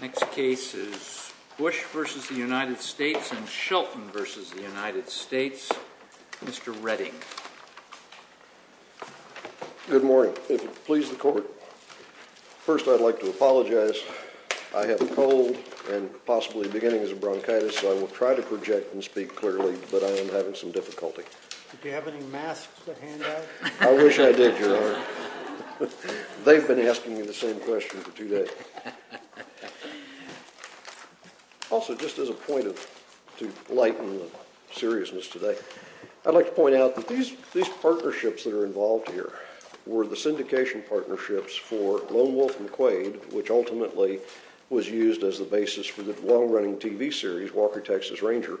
Next case is Bush v. United States and Shelton v. United States. Mr. Redding. Good morning. If it pleases the court, first I'd like to apologize. I have a cold and possibly beginning bronchitis, so I will try to project and speak clearly, but I am having some difficulty. Do you have any masks to hand out? I wish I did, Your Honor. They've been asking me the same question for two days. Also, just as a point to lighten the seriousness today, I'd like to point out that these partnerships that are involved here were the syndication partnerships for Lone Wolf and Quaid, which ultimately was used as the basis for the long-running TV series Walker, Texas Ranger.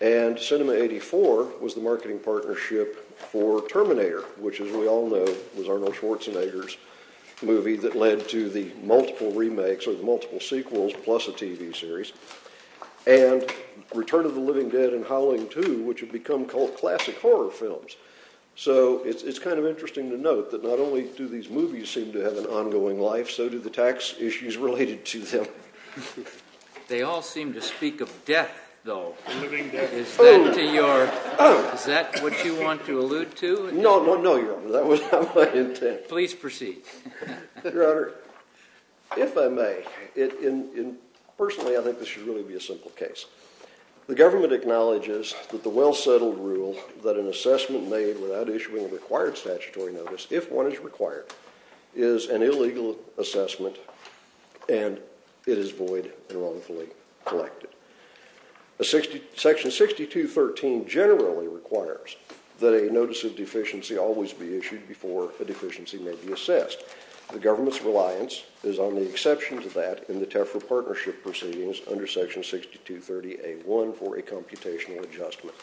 And Cinema 84 was the marketing partnership for Terminator, which, as we all know, was Arnold Schwarzenegger's movie that led to the multiple remakes, or the multiple sequels, plus a TV series. And Return of the Living Dead and Howling 2, which have become cult classic horror films. So it's kind of interesting to note that not only do these movies seem to have an ongoing life, so do the tax issues related to them. They all seem to speak of death, though. The living dead. Is that what you want to allude to? No, Your Honor. That was not my intent. Please proceed. Your Honor, if I may, personally, I think this should really be a simple case. The government acknowledges that the well-settled rule that an assessment made without issuing a required statutory notice, if one is required, is an illegal assessment, and it is void and wrongfully collected. Section 6213 generally requires that a notice of deficiency always be issued before a deficiency may be assessed. The government's reliance is on the exception to that in the TEFRA partnership proceedings under Section 6230A1 for a computational adjustment,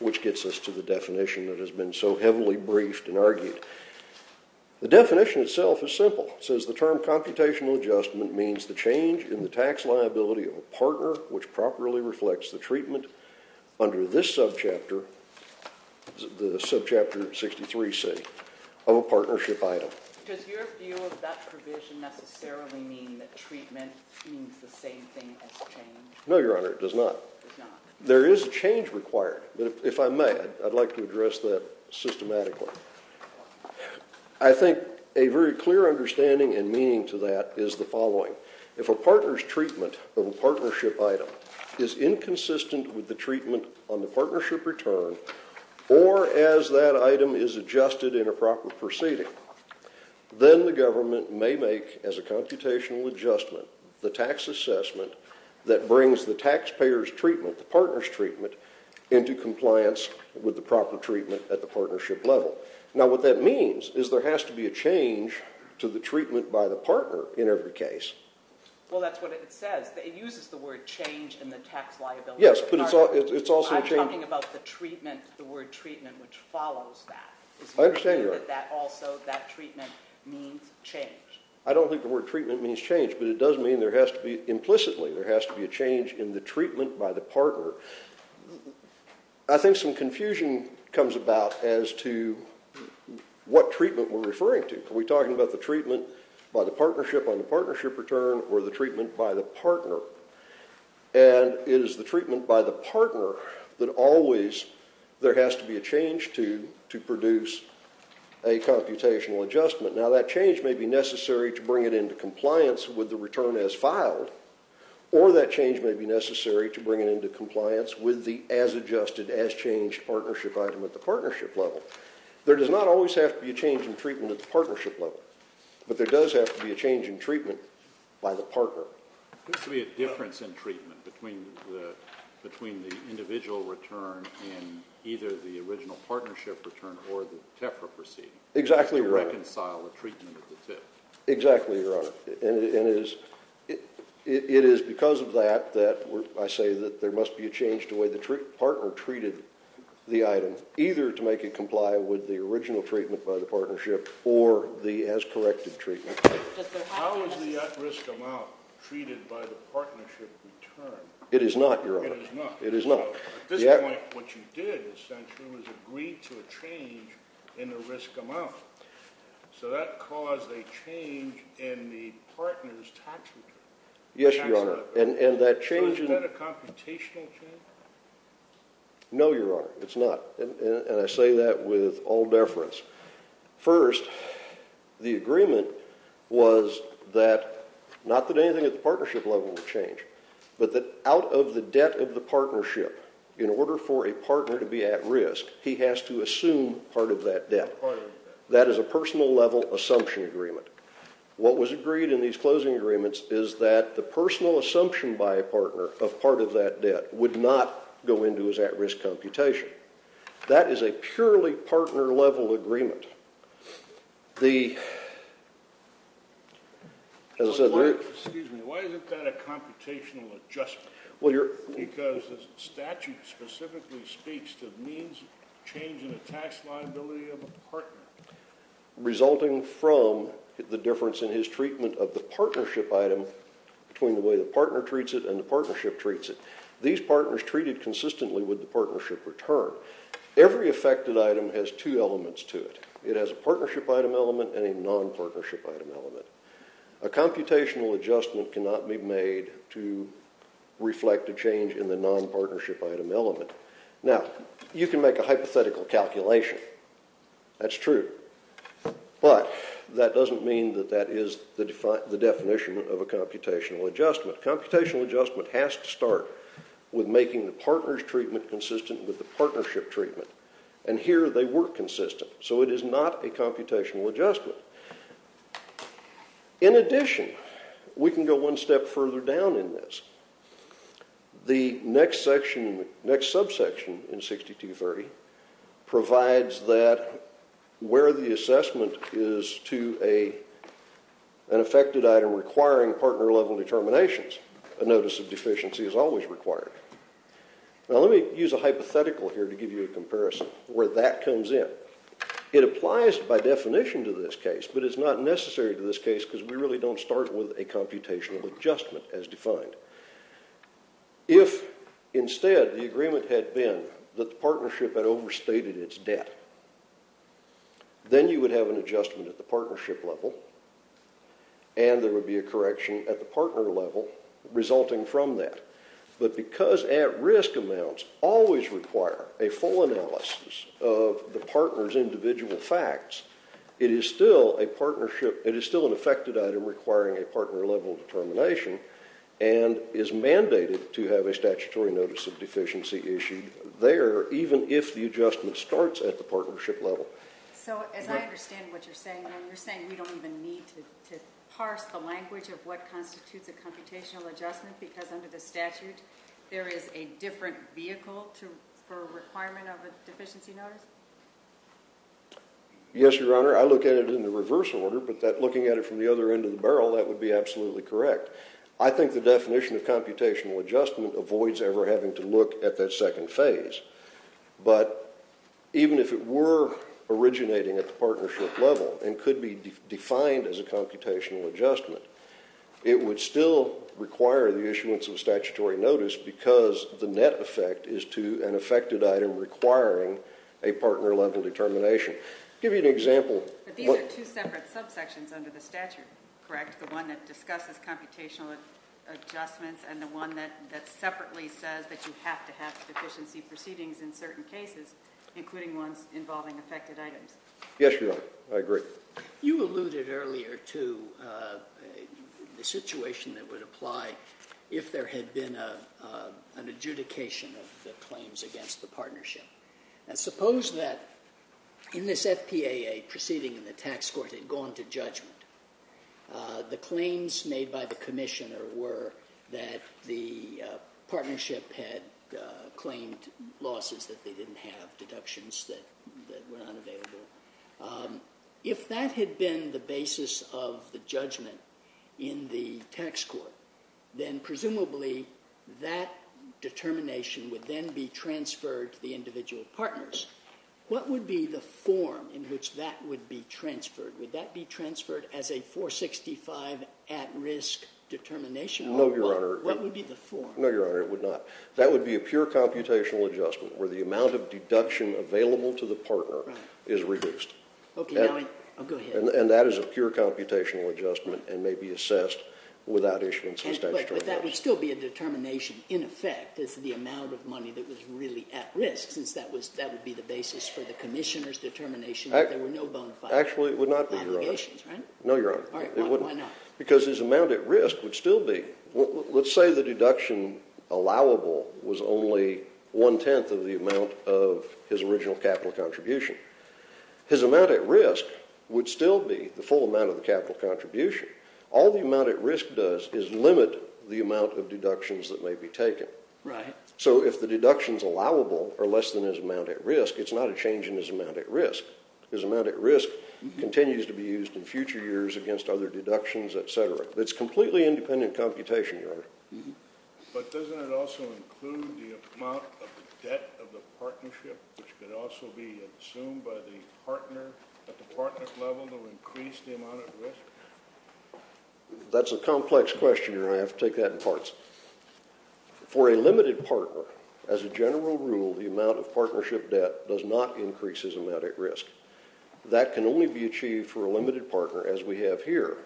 which gets us to the definition that has been so heavily briefed and argued. The definition itself is simple. It says the term computational adjustment means the change in the tax liability of a partner which properly reflects the treatment under this subchapter, the subchapter 63C, of a partnership item. Does your view of that provision necessarily mean that treatment means the same thing as change? No, Your Honor, it does not. It does not. There is a change required, but if I may, I'd like to address that systematically. I think a very clear understanding and meaning to that is the following. If a partner's treatment of a partnership item is inconsistent with the treatment on the partnership return or as that item is adjusted in a proper proceeding, then the government may make as a computational adjustment the tax assessment that brings the taxpayer's treatment, the partner's treatment, into compliance with the proper treatment at the partnership level. Now, what that means is there has to be a change to the treatment by the partner in every case. Well, that's what it says. It uses the word change in the tax liability. Yes, but it's also a change. I'm talking about the treatment, the word treatment, which follows that. I understand, Your Honor. Is your view that also that treatment means change? I don't think the word treatment means change, but it does mean there has to be, implicitly, there has to be a change in the treatment by the partner. I think some confusion comes about as to what treatment we're referring to. Are we talking about the treatment by the partnership on the partnership return or the treatment by the partner? And it is the treatment by the partner that always there has to be a change to produce a computational adjustment. Now, that change may be necessary to bring it into compliance with the return as filed, or that change may be necessary to bring it into compliance with the as-adjusted, as-changed partnership item at the partnership level. There does not always have to be a change in treatment at the partnership level, but there does have to be a change in treatment by the partner. There seems to be a difference in treatment between the individual return and either the original partnership return or the TEFRA proceeding. Exactly, Your Honor. To reconcile the treatment at the tip. Exactly, Your Honor. And it is because of that that I say that there must be a change to the way the partner treated the item, either to make it comply with the original treatment by the partnership or the as-corrected treatment. How is the at-risk amount treated by the partnership return? It is not, Your Honor. It is not? It is not. At this point, what you did, essentially, was agree to a change in the risk amount. So that caused a change in the partner's tax return. Yes, Your Honor. So is that a computational change? No, Your Honor. It's not. And I say that with all deference. First, the agreement was that not that anything at the partnership level would change, but that out of the debt of the partnership, in order for a partner to be at risk, he has to assume part of that debt. That is a personal-level assumption agreement. What was agreed in these closing agreements is that the personal assumption by a partner of part of that debt would not go into his at-risk computation. That is a purely partner-level agreement. Excuse me. Why isn't that a computational adjustment? Because the statute specifically speaks to the change in the tax liability of a partner. Resulting from the difference in his treatment of the partnership item between the way the partner treats it and the partnership treats it. These partners treated consistently with the partnership return. Every affected item has two elements to it. It has a partnership item element and a non-partnership item element. A computational adjustment cannot be made to reflect a change in the non-partnership item element. Now, you can make a hypothetical calculation. That's true. But that doesn't mean that that is the definition of a computational adjustment. Computational adjustment has to start with making the partner's treatment consistent with the partnership treatment. And here they were consistent. So it is not a computational adjustment. In addition, we can go one step further down in this. The next subsection in 6230 provides that where the assessment is to an affected item requiring partner-level determinations. A notice of deficiency is always required. Now, let me use a hypothetical here to give you a comparison where that comes in. It applies by definition to this case, but it's not necessary to this case because we really don't start with a computational adjustment as defined. If instead the agreement had been that the partnership had overstated its debt, then you would have an adjustment at the partnership level, and there would be a correction at the partner level resulting from that. But because at-risk amounts always require a full analysis of the partner's individual facts, it is still an affected item requiring a partner-level determination and is mandated to have a statutory notice of deficiency issued there even if the adjustment starts at the partnership level. So as I understand what you're saying, you're saying we don't even need to parse the language of what constitutes a computational adjustment because under the statute there is a different vehicle for a requirement of a deficiency notice? Yes, Your Honor. I look at it in the reverse order, but looking at it from the other end of the barrel, that would be absolutely correct. I think the definition of computational adjustment avoids ever having to look at that second phase. But even if it were originating at the partnership level and could be defined as a computational adjustment, it would still require the issuance of a statutory notice because the net effect is to an affected item requiring a partner-level determination. I'll give you an example. But these are two separate subsections under the statute, correct? The one that discusses computational adjustments and the one that separately says that you have to have deficiency proceedings in certain cases, including ones involving affected items? Yes, Your Honor. I agree. You alluded earlier to the situation that would apply if there had been an adjudication of the claims against the partnership. Suppose that in this FPAA proceeding in the tax court had gone to judgment, the claims made by the commissioner were that the partnership had claimed losses that they didn't have, deductions that were unavailable. If that had been the basis of the judgment in the tax court, then presumably that determination would then be transferred to the individual partners. What would be the form in which that would be transferred? Would that be transferred as a 465 at-risk determination? No, Your Honor. What would be the form? No, Your Honor, it would not. That would be a pure computational adjustment where the amount of deduction available to the partner is reduced. Okay. Go ahead. And that is a pure computational adjustment and may be assessed without issuing substantial damages. But that would still be a determination, in effect, is the amount of money that was really at risk, since that would be the basis for the commissioner's determination that there were no bona fide allegations, right? No, Your Honor. Why not? Because his amount at risk would still be. Let's say the deduction allowable was only one-tenth of the amount of his original capital contribution. His amount at risk would still be the full amount of the capital contribution. All the amount at risk does is limit the amount of deductions that may be taken. Right. So if the deductions allowable are less than his amount at risk, it's not a change in his amount at risk. His amount at risk continues to be used in future years against other deductions, et cetera. It's completely independent computation, Your Honor. But doesn't it also include the amount of the debt of the partnership, which could also be assumed by the partner at the partner's level to increase the amount at risk? That's a complex question, Your Honor. I have to take that in parts. For a limited partner, as a general rule, the amount of partnership debt does not increase his amount at risk. That can only be achieved for a limited partner, as we have here,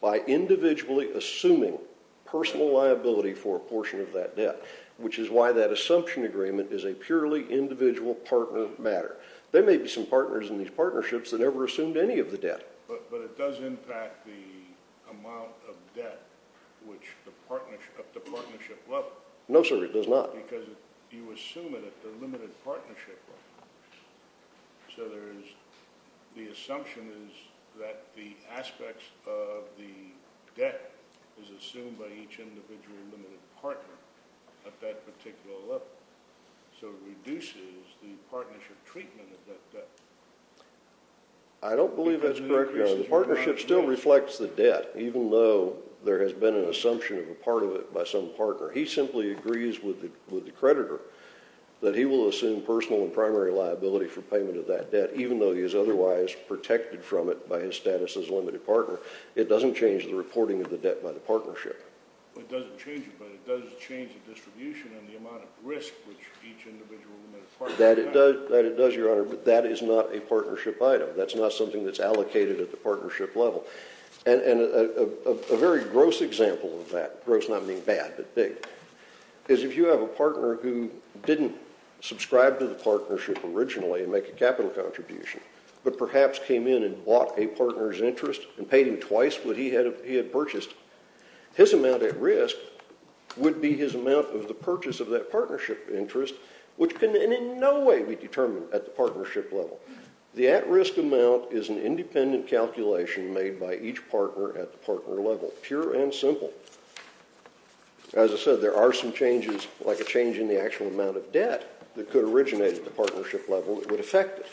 by individually assuming personal liability for a portion of that debt, which is why that assumption agreement is a purely individual partner matter. There may be some partners in these partnerships that never assumed any of the debt. But it does impact the amount of debt, which the partnership at the partnership level. No, sir, it does not. Because you assume it at the limited partnership level. So the assumption is that the aspects of the debt is assumed by each individual limited partner at that particular level. So it reduces the partnership treatment of that debt. I don't believe that's correct, Your Honor. The partnership still reflects the debt, even though there has been an assumption of a part of it by some partner. He simply agrees with the creditor that he will assume personal and primary liability for payment of that debt, even though he is otherwise protected from it by his status as a limited partner. It doesn't change the reporting of the debt by the partnership. It doesn't change it, but it does change the distribution and the amount of risk which each individual limited partner has. That it does, Your Honor, but that is not a partnership item. That's not something that's allocated at the partnership level. And a very gross example of that, gross not meaning bad, but big, is if you have a partner who didn't subscribe to the partnership originally and make a capital contribution, but perhaps came in and bought a partner's interest and paid him twice what he had purchased, his amount at risk would be his amount of the purchase of that partnership interest, which can in no way be determined at the partnership level. The at-risk amount is an independent calculation made by each partner at the partner level, pure and simple. As I said, there are some changes, like a change in the actual amount of debt, that could originate at the partnership level that would affect it.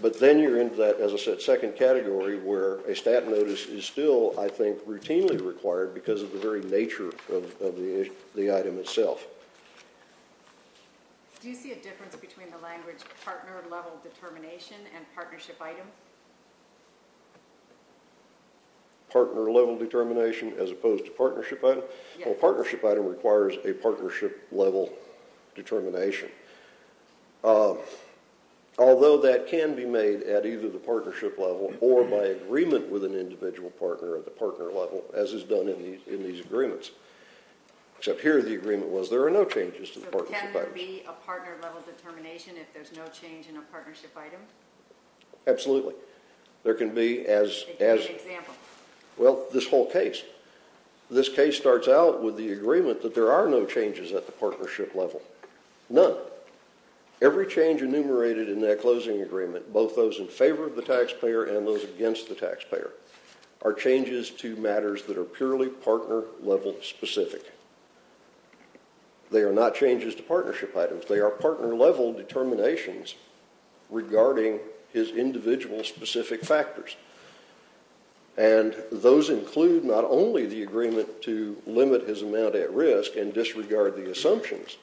But then you're into that, as I said, second category where a stat notice is still, I think, routinely required because of the very nature of the item itself. Do you see a difference between the language partner level determination and partnership item? Partner level determination as opposed to partnership item? Well, partnership item requires a partnership level determination. Although that can be made at either the partnership level or by agreement with an individual partner at the partner level, as is done in these agreements. Except here the agreement was there are no changes to the partnership item. So can there be a partner level determination if there's no change in a partnership item? Absolutely. There can be as... Give me an example. Well, this whole case. This case starts out with the agreement that there are no changes at the partnership level. None. Every change enumerated in that closing agreement, both those in favor of the taxpayer and those against the taxpayer, are changes to matters that are purely partner level specific. They are not changes to partnership items. They are partner level determinations regarding his individual specific factors. And those include not only the agreement to limit his amount at risk and disregard the assumptions.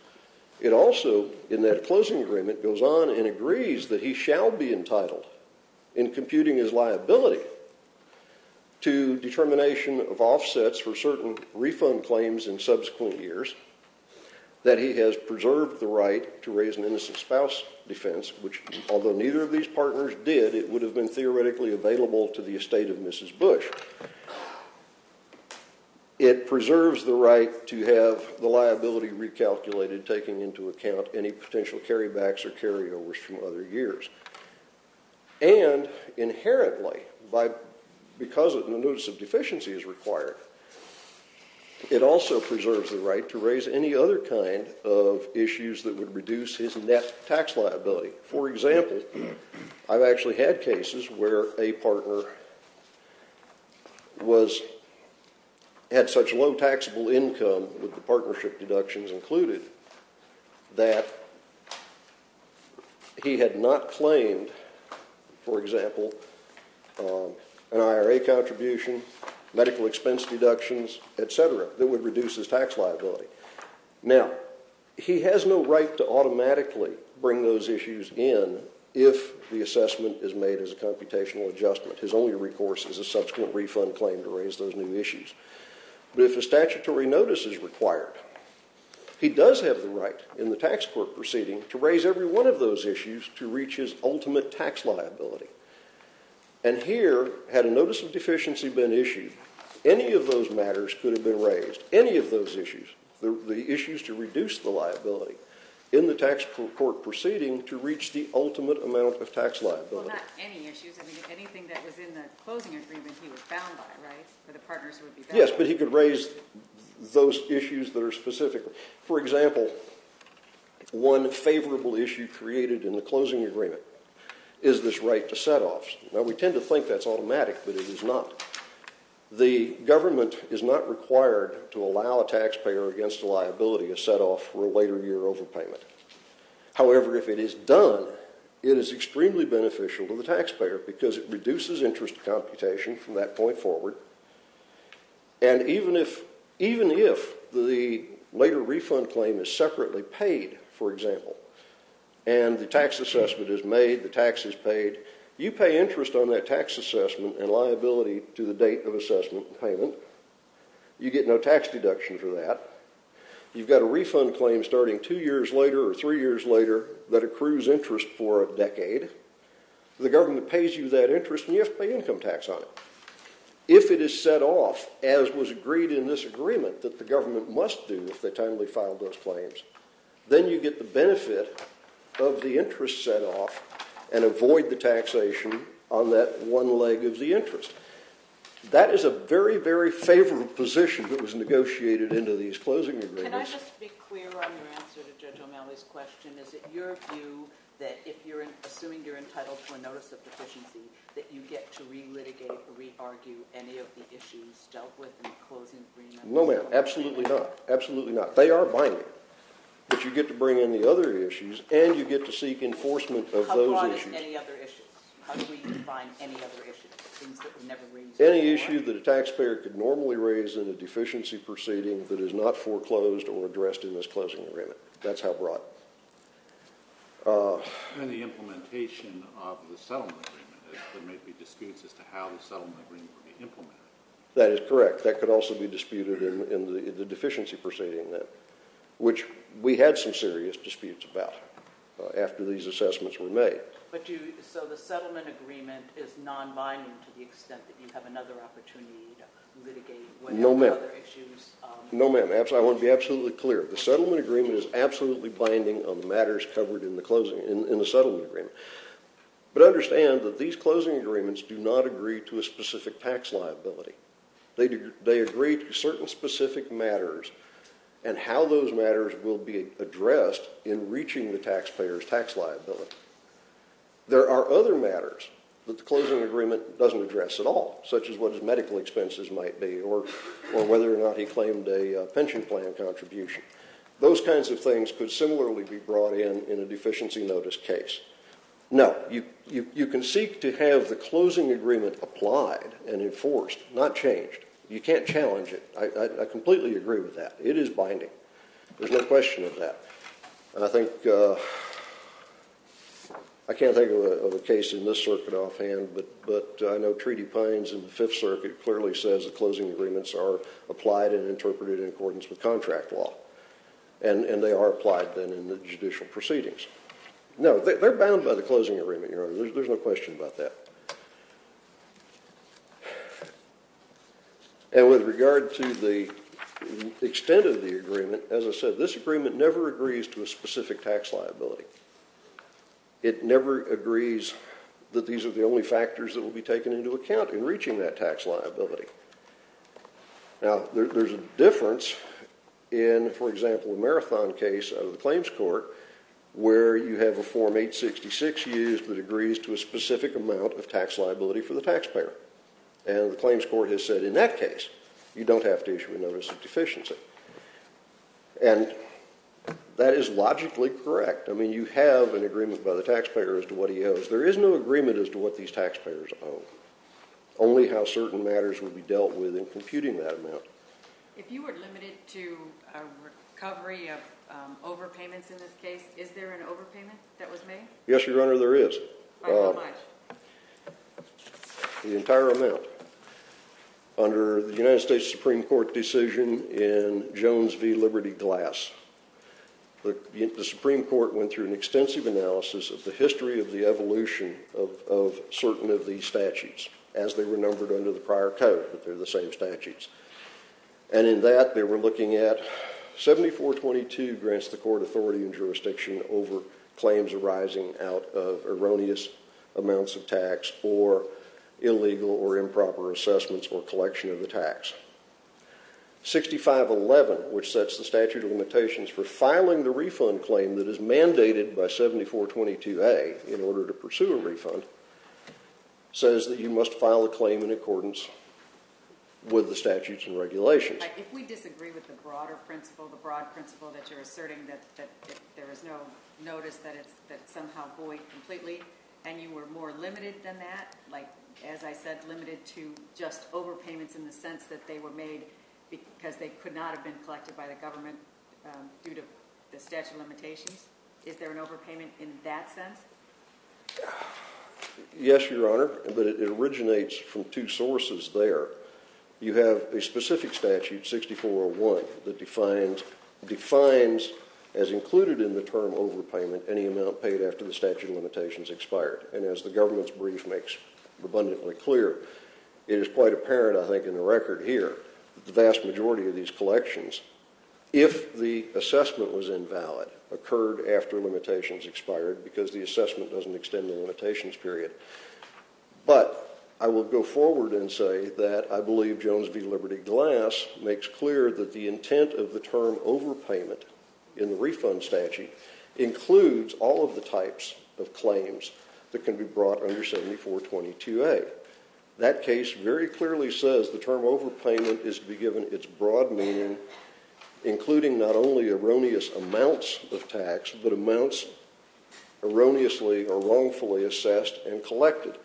It also, in that closing agreement, goes on and agrees that he shall be entitled in computing his liability to determination of offsets for certain refund claims in subsequent years that he has preserved the right to raise an innocent spouse defense, which although neither of these partners did, it would have been theoretically available to the estate of Mrs. Bush. It preserves the right to have the liability recalculated, taking into account any potential carrybacks or carryovers from other years. And inherently, because of the notice of deficiency is required, it also preserves the right to raise any other kind of issues that would reduce his net tax liability. For example, I've actually had cases where a partner had such low taxable income, with the partnership deductions included, that he had not claimed, for example, an IRA contribution, medical expense deductions, etc., that would reduce his tax liability. Now, he has no right to automatically bring those issues in if the assessment is made as a computational adjustment. His only recourse is a subsequent refund claim to raise those new issues. But if a statutory notice is required, he does have the right, in the tax court proceeding, to raise every one of those issues to reach his ultimate tax liability. And here, had a notice of deficiency been issued, any of those matters could have been raised. Any of those issues, the issues to reduce the liability, in the tax court proceeding, to reach the ultimate amount of tax liability. Well, not any issues. I mean, anything that was in the closing agreement he was bound by, right? For the partners who would be bound. Yes, but he could raise those issues that are specific. For example, one favorable issue created in the closing agreement is this right to setoffs. Now, we tend to think that's automatic, but it is not. The government is not required to allow a taxpayer against a liability, a setoff, for a later year overpayment. However, if it is done, it is extremely beneficial to the taxpayer because it reduces interest computation from that point forward. And even if the later refund claim is separately paid, for example, and the tax assessment is made, the tax is paid, you pay interest on that tax assessment and liability to the date of assessment and payment. You get no tax deduction for that. You've got a refund claim starting two years later or three years later that accrues interest for a decade. The government pays you that interest, and you have to pay income tax on it. If it is set off, as was agreed in this agreement, that the government must do if they timely file those claims, then you get the benefit of the interest set off and avoid the taxation on that one leg of the interest. That is a very, very favorable position that was negotiated into these closing agreements. Can I just be clear on your answer to Judge O'Malley's question? Is it your view that if you're assuming you're entitled to a notice of deficiency, that you get to re-litigate or re-argue any of the issues dealt with in the closing agreement? No, ma'am. Absolutely not. Absolutely not. They are binding, but you get to bring in the other issues, and you get to seek enforcement of those issues. How broad is any other issues? How do we define any other issues, things that were never raised before? Any issue that a taxpayer could normally raise in a deficiency proceeding that is not foreclosed or addressed in this closing agreement. That's how broad. And the implementation of the settlement agreement. There may be disputes as to how the settlement agreement would be implemented. That is correct. That could also be disputed in the deficiency proceeding, which we had some serious disputes about after these assessments were made. So the settlement agreement is non-binding to the extent that you have another opportunity to litigate other issues? No, ma'am. No, ma'am. I want to be absolutely clear. The settlement agreement is absolutely binding on the matters covered in the settlement agreement. But understand that these closing agreements do not agree to a specific tax liability. They agree to certain specific matters and how those matters will be addressed in reaching the taxpayer's tax liability. There are other matters that the closing agreement doesn't address at all, such as what his medical expenses might be or whether or not he claimed a pension plan contribution. Those kinds of things could similarly be brought in in a deficiency notice case. No, you can seek to have the closing agreement applied and enforced, not changed. You can't challenge it. I completely agree with that. It is binding. There's no question of that. And I think, I can't think of a case in this circuit offhand, but I know Treaty Pines in the Fifth Circuit clearly says the closing agreements are applied and interpreted in accordance with contract law. And they are applied then in the judicial proceedings. No, they're bound by the closing agreement, Your Honor. There's no question about that. And with regard to the extent of the agreement, as I said, this agreement never agrees to a specific tax liability. It never agrees that these are the only factors that will be taken into account in reaching that tax liability. Now, there's a difference in, for example, a marathon case out of the claims court where you have a Form 866 used that agrees to a specific amount of tax liability for the taxpayer. And the claims court has said, in that case, you don't have to issue a notice of deficiency. And that is logically correct. I mean, you have an agreement by the taxpayer as to what he owes. There is no agreement as to what these taxpayers owe. Only how certain matters will be dealt with in computing that amount. If you were limited to a recovery of overpayments in this case, is there an overpayment that was made? Yes, Your Honor, there is. By how much? The entire amount. Under the United States Supreme Court decision in Jones v. Liberty Glass, the Supreme Court went through an extensive analysis of the history of the evolution of certain of these statutes as they were numbered under the prior code, but they're the same statutes. And in that, they were looking at 7422 grants the court authority and jurisdiction over claims arising out of erroneous amounts of tax or illegal or improper assessments or collection of the tax. 6511, which sets the statute of limitations for filing the refund claim that is mandated by 7422A in order to pursue a refund, says that you must file a claim in accordance with the statutes and regulations. If we disagree with the broader principle, the broad principle that you're asserting, that there is no notice that it's somehow void completely, and you were more limited than that, like, as I said, limited to just overpayments in the sense that they were made because they could not have been collected by the government due to the statute of limitations, is there an overpayment in that sense? Yes, Your Honor, but it originates from two sources there. You have a specific statute, 6401, that defines, as included in the term overpayment, any amount paid after the statute of limitations expired. And as the government's brief makes abundantly clear, it is quite apparent, I think, in the record here, the vast majority of these collections, if the assessment was invalid, occurred after limitations expired because the assessment doesn't extend the limitations period. But I will go forward and say that I believe Jones v. Liberty Glass makes clear that the intent of the term overpayment in the refund statute includes all of the types of claims that can be brought under 7422A. That case very clearly says the term overpayment is to be given its broad meaning, including not only erroneous amounts of tax, but amounts erroneously or wrongfully assessed and collected.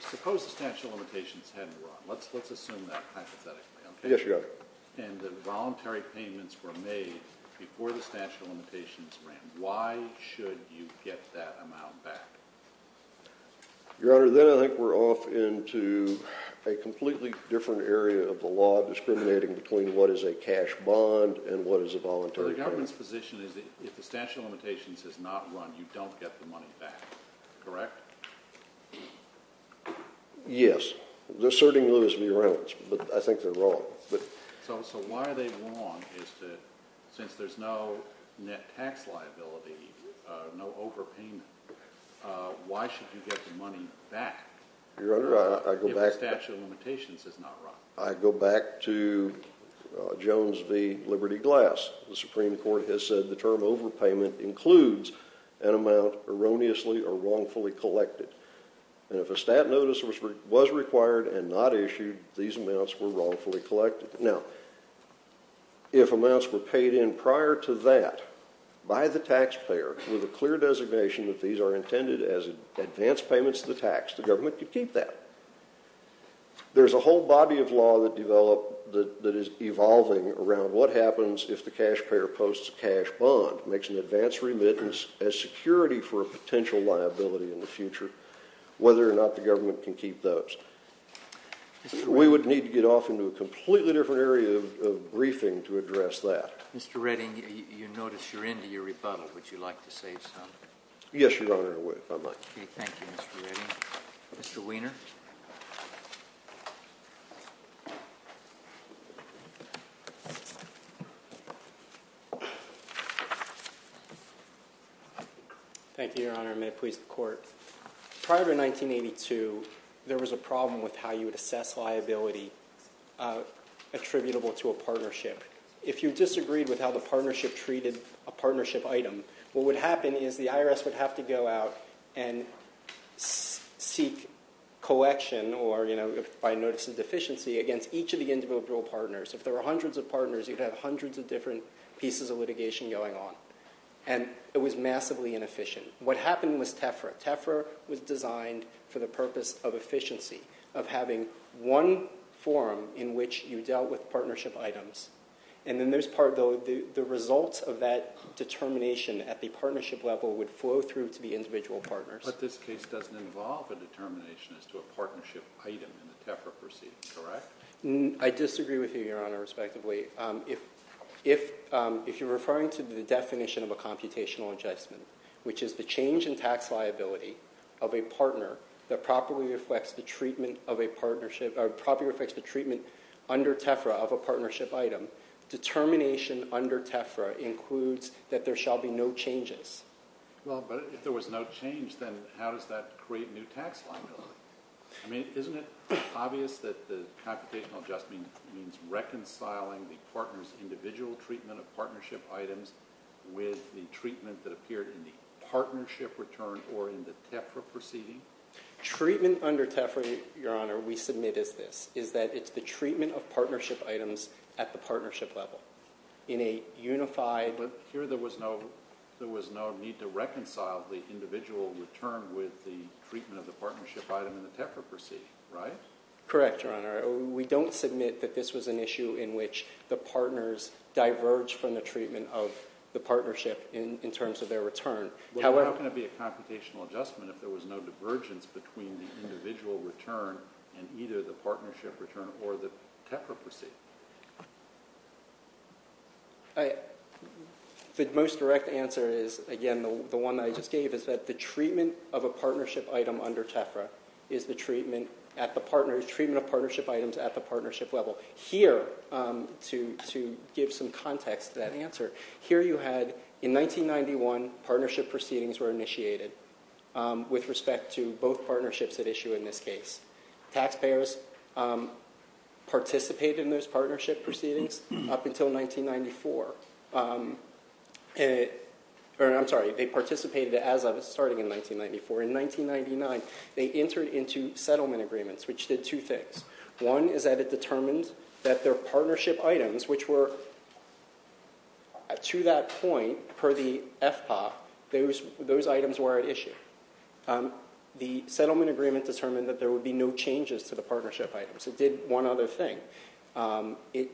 Suppose the statute of limitations hadn't run. Let's assume that hypothetically. Yes, Your Honor. And the voluntary payments were made before the statute of limitations ran. Why should you get that amount back? Your Honor, then I think we're off into a completely different area of the law discriminating between what is a cash bond and what is a voluntary payment. Your Honor, the government's position is that if the statute of limitations has not run, you don't get the money back, correct? Yes. They're asserting Lewis v. Reynolds, but I think they're wrong. So why are they wrong since there's no net tax liability, no overpayment? Why should you get the money back if the statute of limitations has not run? I go back to Jones v. Liberty Glass. The Supreme Court has said the term overpayment includes an amount erroneously or wrongfully collected. And if a stat notice was required and not issued, these amounts were wrongfully collected. Now, if amounts were paid in prior to that by the taxpayer with a clear designation that these are intended as advance payments to the tax, the government could keep that. There's a whole body of law that is evolving around what happens if the taxpayer posts a cash bond, makes an advance remittance as security for a potential liability in the future, whether or not the government can keep those. We would need to get off into a completely different area of briefing to address that. Mr. Redding, you notice you're into your rebuttal. Would you like to say something? Yes, Your Honor, if I might. Okay, thank you, Mr. Redding. Mr. Weiner. Thank you, Your Honor, and may it please the Court. Prior to 1982, there was a problem with how you would assess liability attributable to a partnership. If you disagreed with how the partnership treated a partnership item, what would happen is the IRS would have to go out and seek collection, or by notice of deficiency, against each of the individual partners. If there were hundreds of partners, you'd have hundreds of different pieces of litigation going on, and it was massively inefficient. What happened was TEFRA. TEFRA was designed for the purpose of efficiency, of having one forum in which you dealt with partnership items. The results of that determination at the partnership level would flow through to the individual partners. But this case doesn't involve a determination as to a partnership item in the TEFRA proceedings, correct? I disagree with you, Your Honor, respectively. If you're referring to the definition of a computational adjustment, which is the change in tax liability of a partner that properly reflects the treatment of a partnership, or properly reflects the treatment under TEFRA of a partnership item, determination under TEFRA includes that there shall be no changes. Well, but if there was no change, then how does that create new tax liability? I mean, isn't it obvious that the computational adjustment means reconciling the partner's individual treatment of partnership items with the treatment that appeared in the partnership return or in the TEFRA proceeding? Treatment under TEFRA, Your Honor, we submit as this, is that it's the treatment of partnership items at the partnership level in a unified… But here there was no need to reconcile the individual return with the treatment of the partnership item in the TEFRA proceeding, right? Correct, Your Honor. We don't submit that this was an issue in which the partners diverged from the treatment of the partnership in terms of their return. Well, how can it be a computational adjustment if there was no divergence between the individual return and either the partnership return or the TEFRA proceeding? The most direct answer is, again, the one that I just gave, is that the treatment of a partnership item under TEFRA is the treatment of partnership items at the partnership level. Here, to give some context to that answer, here you had, in 1991, partnership proceedings were initiated with respect to both partnerships at issue in this case. Taxpayers participated in those partnership proceedings up until 1994. I'm sorry, they participated as of starting in 1994. In 1999, they entered into settlement agreements, which did two things. One is that it determined that their partnership items, which were, to that point, per the FPA, those items were at issue. The settlement agreement determined that there would be no changes to the partnership items. It did one other thing. It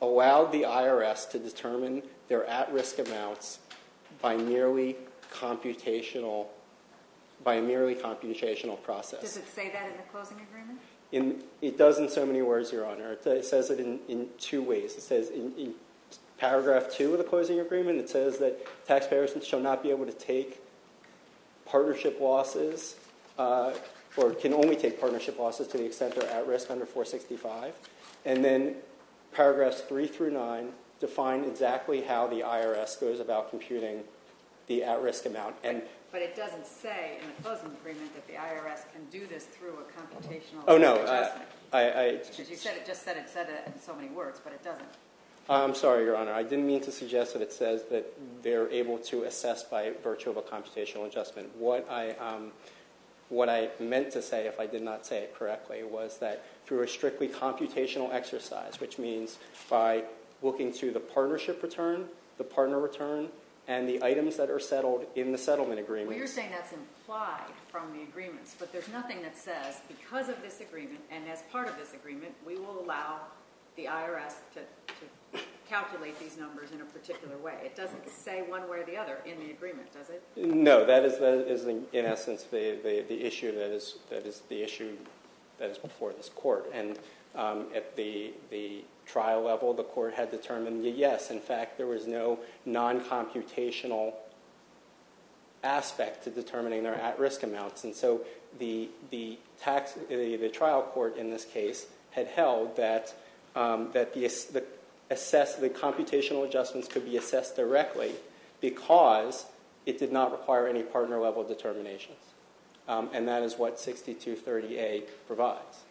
allowed the IRS to determine their at-risk amounts by merely computational process. Does it say that in the closing agreement? It does in so many words, Your Honor. It says it in two ways. It says in Paragraph 2 of the closing agreement, it says that taxpayers shall not be able to take partnership losses or can only take partnership losses to the extent they're at risk under 465. And then Paragraphs 3 through 9 define exactly how the IRS goes about computing the at-risk amount. But it doesn't say in the closing agreement that the IRS can do this through a computational adjustment. Oh, no. Because you said it just said it in so many words, but it doesn't. I'm sorry, Your Honor. I didn't mean to suggest that it says that they're able to assess by virtue of a computational adjustment. What I meant to say, if I did not say it correctly, was that through a strictly computational exercise, which means by looking to the partnership return, the partner return, and the items that are settled in the settlement agreement. You're saying that's implied from the agreements, but there's nothing that says because of this agreement and as part of this agreement, we will allow the IRS to calculate these numbers in a particular way. It doesn't say one way or the other in the agreement, does it? No, that is in essence the issue that is before this court. And at the trial level, the court had determined that, yes, in fact, there was no non-computational aspect to determining their at-risk amounts. And so the trial court in this case had held that the computational adjustments could be assessed directly because it did not require any partner-level determinations. And that is what 6230A provides.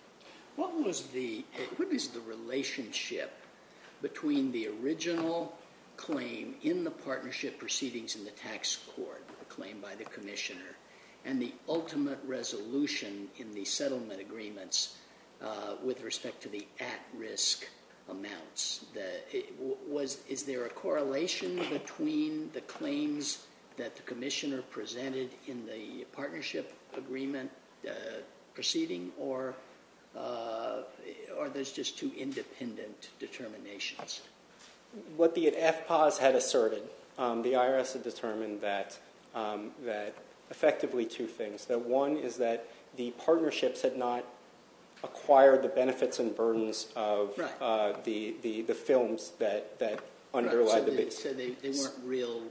What was the relationship between the original claim in the partnership proceedings in the tax court, the claim by the commissioner, and the ultimate resolution in the settlement agreements with respect to the at-risk amounts? Is there a correlation between the claims that the commissioner presented in the partnership agreement proceeding or are those just two independent determinations? What the FPAS had asserted, the IRS had determined that effectively two things. That one is that the partnerships had not acquired the benefits and burdens of the films that underlie the basis. So they weren't real?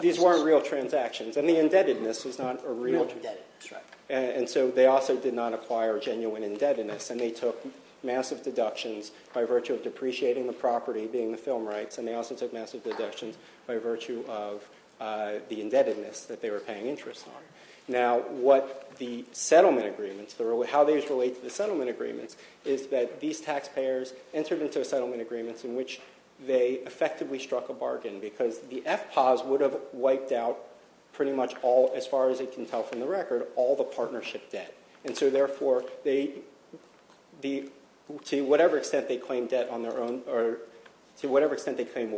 These weren't real transactions. And the indebtedness was not a real transaction. Real indebtedness, right. And so they also did not acquire genuine indebtedness. And they took massive deductions by virtue of depreciating the property, being the film rights, and they also took massive deductions by virtue of the indebtedness that they were paying interest on. Now, what the settlement agreements, how these relate to the settlement agreements, is that these taxpayers entered into a settlement agreement in which they effectively struck a bargain because the FPAS would have wiped out pretty much all, as far as it can tell from the record, all the partnership debt. And so therefore, to whatever extent they claim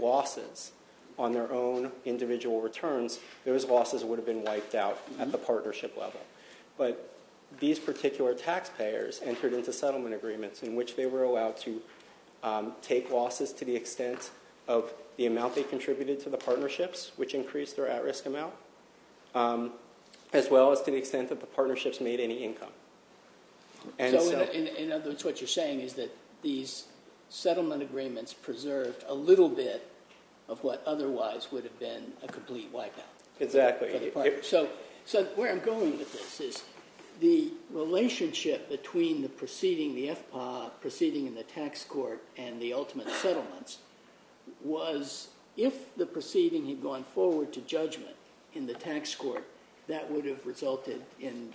losses on their own individual returns, those losses would have been wiped out at the partnership level. But these particular taxpayers entered into settlement agreements in which they were allowed to take losses to the extent of the amount they contributed to the partnerships, which increased their at-risk amount, as well as to the extent that the partnerships made any income. So in other words, what you're saying is that these settlement agreements preserved a little bit of what otherwise would have been a complete wipeout. Exactly. So where I'm going with this is the relationship between the proceeding, the FPA, proceeding in the tax court, and the ultimate settlements was if the proceeding had gone forward to judgment in the tax court, that would have resulted in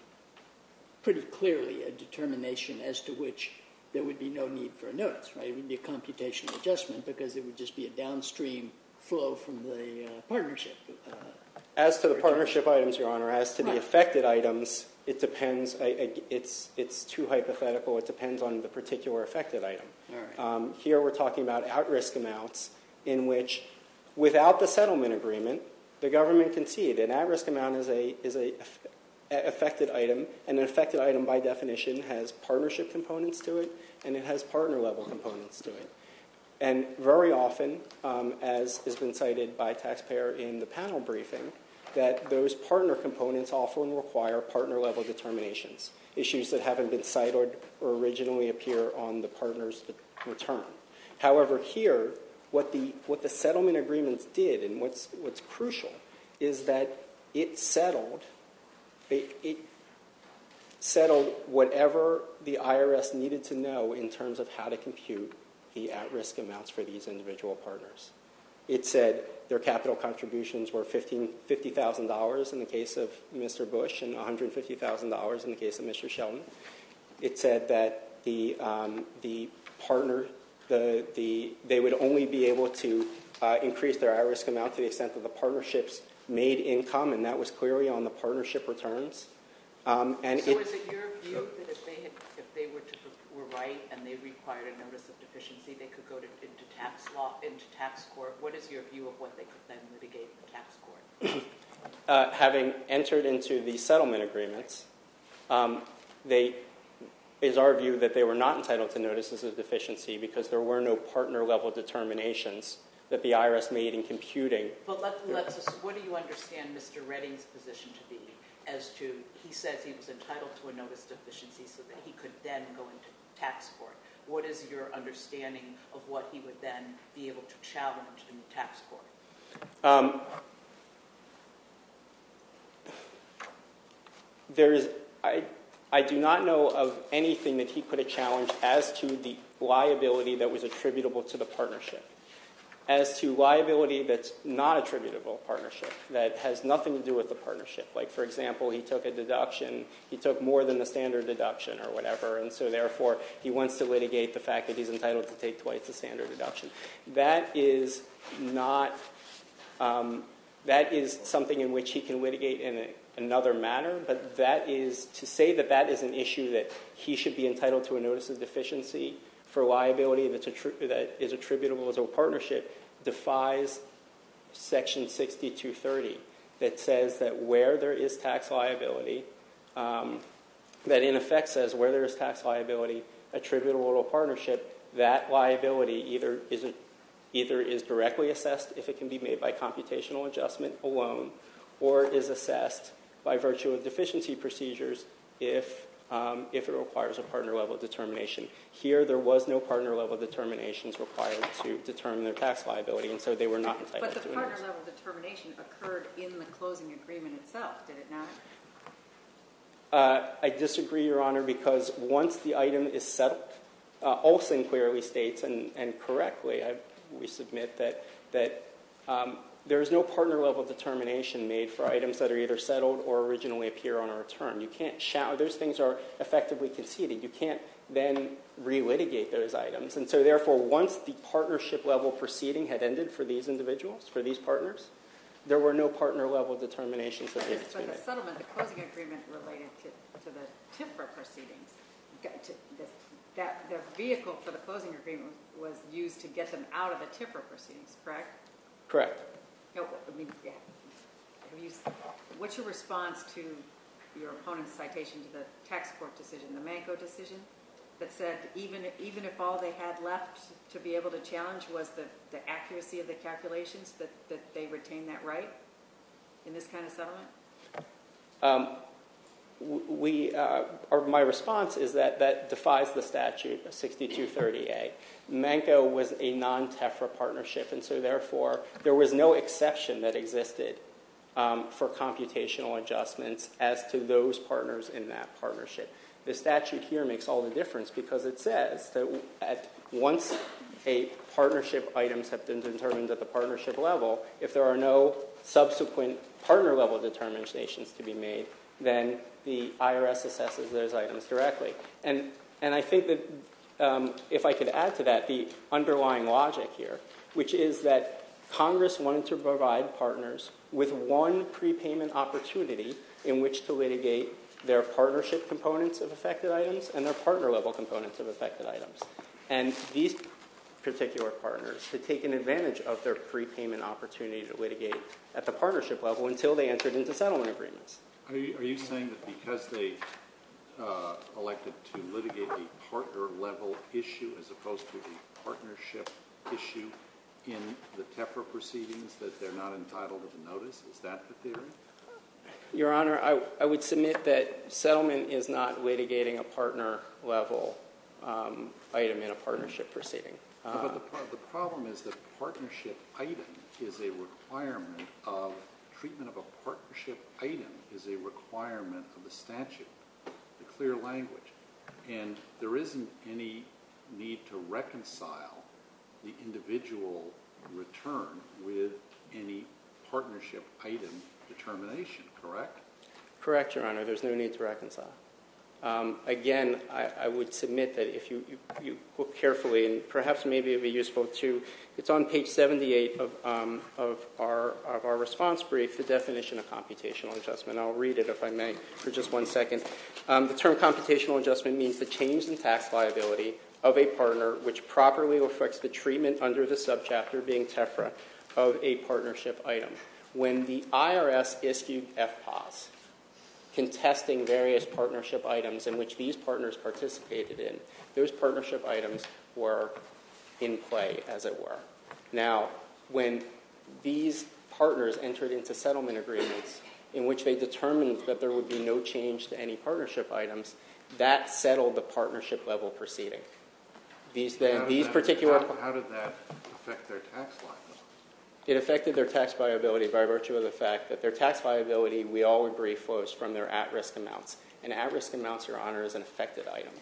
pretty clearly a determination as to which there would be no need for a notice. It wouldn't be a computation adjustment because it would just be a downstream flow from the partnership. As to the partnership items, Your Honor, as to the affected items, it depends. It's too hypothetical. It depends on the particular affected item. Here we're talking about at-risk amounts in which, without the settlement agreement, the government can see it. An at-risk amount is an affected item, and an affected item, by definition, has partnership components to it, and it has partner-level components to it. And very often, as has been cited by a taxpayer in the panel briefing, that those partner components often require partner-level determinations, issues that haven't been cited or originally appear on the partner's return. However, here, what the settlement agreements did, and what's crucial, is that it settled whatever the IRS needed to know in terms of how to compute the at-risk amounts for these individual partners. It said their capital contributions were $50,000 in the case of Mr. Bush and $150,000 in the case of Mr. Sheldon. It said that they would only be able to increase their at-risk amount to the extent that the partnerships made income, and that was clearly on the partnership returns. So is it your view that if they were right and they required a notice of deficiency, they could go into tax law, into tax court? What is your view of what they could then mitigate in the tax court? Having entered into the settlement agreements, it is our view that they were not entitled to notices of deficiency because there were no partner-level determinations that the IRS made in computing. But what do you understand Mr. Redding's position to be as to – he says he was entitled to a notice of deficiency so that he could then go into tax court. What is your understanding of what he would then be able to challenge in the tax court? I do not know of anything that he could have challenged as to the liability that was attributable to the partnership. As to liability that's not attributable to the partnership, that has nothing to do with the partnership. Like for example, he took a deduction. He took more than the standard deduction or whatever, and so therefore he wants to litigate the fact that he's entitled to take twice the standard deduction. That is something in which he can litigate in another manner, but to say that that is an issue that he should be entitled to a notice of deficiency for liability that is attributable to a partnership defies Section 60230 that says that where there is tax liability, that in effect says where there is tax liability attributable to a partnership, that liability either is directly assessed if it can be made by computational adjustment alone or is assessed by virtue of deficiency procedures if it requires a partner-level determination. Here there was no partner-level determinations required to determine their tax liability, and so they were not entitled to a notice. But the partner-level determination occurred in the closing agreement itself, did it not? I disagree, Your Honor, because once the item is settled, Olsen clearly states, and correctly we submit that there is no partner-level determination made for items that are either settled or originally appear on our term. Those things are effectively conceded. You can't then re-litigate those items, and so therefore once the partnership-level proceeding had ended for these individuals, for these partners, there were no partner-level determinations. For the settlement, the closing agreement related to the TIFRA proceedings, the vehicle for the closing agreement was used to get them out of the TIFRA proceedings, correct? Correct. What's your response to your opponent's citation to the tax court decision, the Manco decision, that said even if all they had left to be able to challenge was the accuracy of the calculations, that they retained that right in this kind of settlement? My response is that that defies the statute, 6230A. Manco was a non-TIFRA partnership, and so therefore there was no exception that existed for computational adjustments as to those partners in that partnership. The statute here makes all the difference because it says that once a partnership item has been determined at the partnership level, if there are no subsequent partner-level determinations to be made, then the IRS assesses those items directly. And I think that if I could add to that the underlying logic here, which is that Congress wanted to provide partners with one prepayment opportunity in which to litigate their partnership components of affected items and their partner-level components of affected items. And these particular partners had taken advantage of their prepayment opportunity to litigate at the partnership level until they entered into settlement agreements. Are you saying that because they elected to litigate a partner-level issue as opposed to the partnership issue in the TIFRA proceedings that they're not entitled to the notice? Is that the theory? Your Honor, I would submit that settlement is not litigating a partner level. Item in a partnership proceeding. But the problem is that partnership item is a requirement of treatment of a partnership item is a requirement of the statute, the clear language. And there isn't any need to reconcile the individual return with any partnership item determination, correct? Again, I would submit that if you look carefully, and perhaps maybe it would be useful to, it's on page 78 of our response brief, the definition of computational adjustment. I'll read it if I may for just one second. The term computational adjustment means the change in tax liability of a partner which properly reflects the treatment under the subchapter being TIFRA of a partnership item. When the IRS issued FPAS contesting various partnership items in which these partners participated in, those partnership items were in play, as it were. Now, when these partners entered into settlement agreements in which they determined that there would be no change to any partnership items, that settled the partnership level proceeding. How did that affect their tax liability? It affected their tax liability by virtue of the fact that their tax liability, we all agree, flows from their at-risk amounts. And at-risk amounts, Your Honor, is an affected item.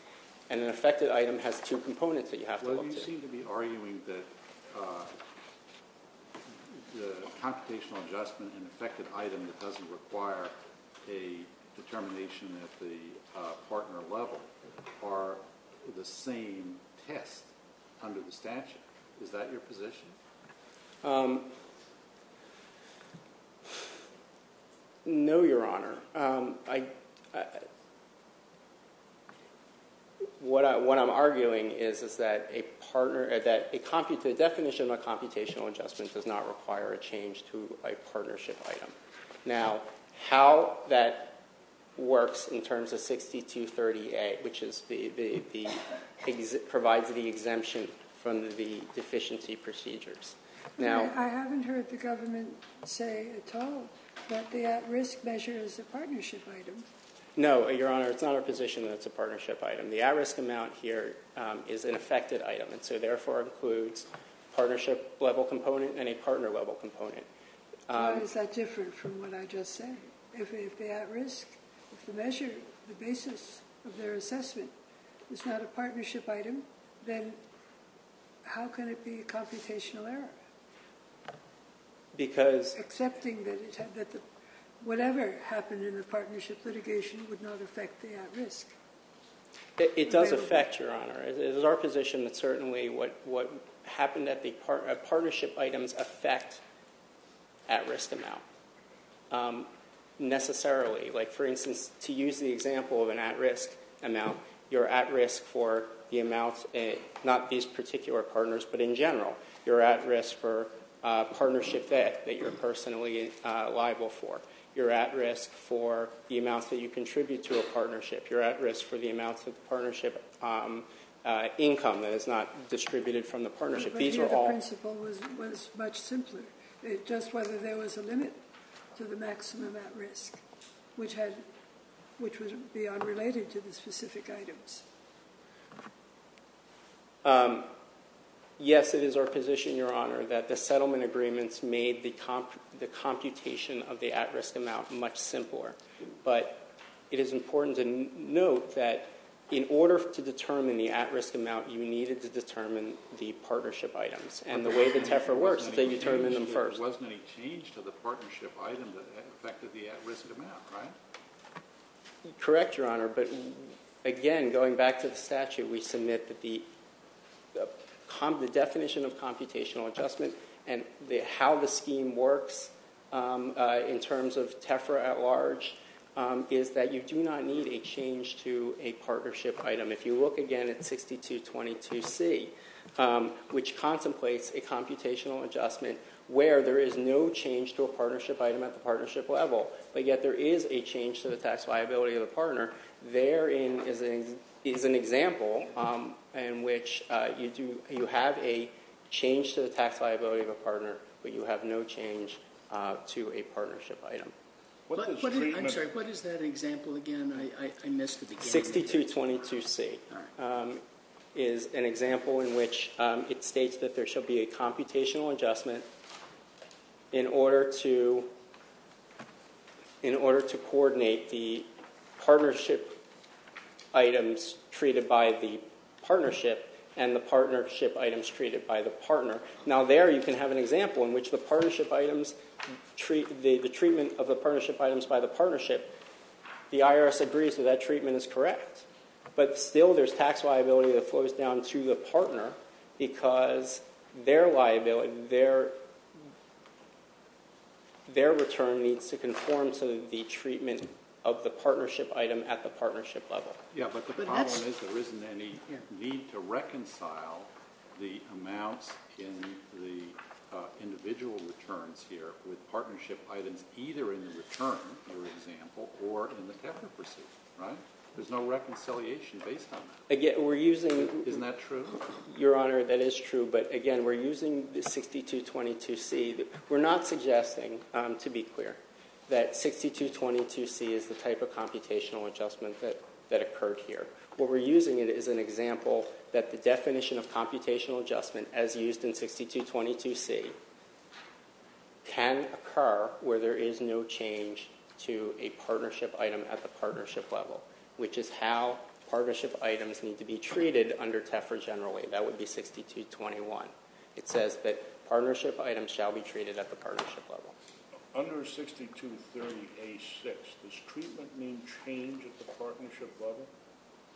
And an affected item has two components that you have to look to. Well, you seem to be arguing that the computational adjustment and affected item that doesn't require a determination at the partner level are the same test under the statute. Is that your position? No, Your Honor. What I'm arguing is that a definition of a computational adjustment does not require a change to a partnership item. Now, how that works in terms of 6238, which provides the exemption from the deficiency procedures. I haven't heard the government say at all that the at-risk measure is a partnership item. No, Your Honor, it's not our position that it's a partnership item. The at-risk amount here is an affected item, and so therefore includes a partnership-level component and a partner-level component. Why is that different from what I just said? If the at-risk measure, the basis of their assessment, is not a partnership item, then how can it be a computational error? Because— Accepting that whatever happened in the partnership litigation would not affect the at-risk. It does affect, Your Honor. It is our position that certainly what happened at the partnership items affect at-risk amount necessarily. Like, for instance, to use the example of an at-risk amount, you're at risk for the amount, not these particular partners, but in general. You're at risk for partnership debt that you're personally liable for. You're at risk for the amounts that you contribute to a partnership. You're at risk for the amounts of partnership income that is not distributed from the partnership. But the other principle was much simpler, just whether there was a limit to the maximum at-risk, which would be unrelated to the specific items. Yes, it is our position, Your Honor, that the settlement agreements made the computation of the at-risk amount much simpler, but it is important to note that in order to determine the at-risk amount, you needed to determine the partnership items, and the way the TEFRA works is that you determine them first. There wasn't any change to the partnership item that affected the at-risk amount, right? Correct, Your Honor, but again, going back to the statute, we submit that the definition of computational adjustment and how the scheme works in terms of TEFRA at large is that you do not need a change to a partnership item. If you look again at 6222C, which contemplates a computational adjustment where there is no change to a partnership item at the partnership level, but yet there is a change to the tax liability of the partner, there is an example in which you have a change to the tax liability of a partner, but you have no change to a partnership item. I'm sorry, what is that example again? I missed the beginning. 6222C is an example in which it states that there should be a computational adjustment in order to coordinate the partnership items treated by the partnership and the partnership items treated by the partner. Now there you can have an example in which the treatment of the partnership items by the partnership, the IRS agrees that that treatment is correct, but still there's tax liability that flows down to the partner because their return needs to conform to the treatment of the partnership item at the partnership level. Yeah, but the problem is there isn't any need to reconcile the amounts in the individual returns here with partnership items either in the return, for example, or in the TEFRA procedure, right? There's no reconciliation based on that. Isn't that true? Your Honor, that is true, but again, we're using 6222C. We're not suggesting, to be clear, that 6222C is the type of computational adjustment that occurred here. What we're using is an example that the definition of computational adjustment as used in 6222C can occur where there is no change to a partnership item at the partnership level, which is how partnership items need to be treated under TEFRA generally. That would be 6221. It says that partnership items shall be treated at the partnership level. Under 6230A6, does treatment mean change at the partnership level,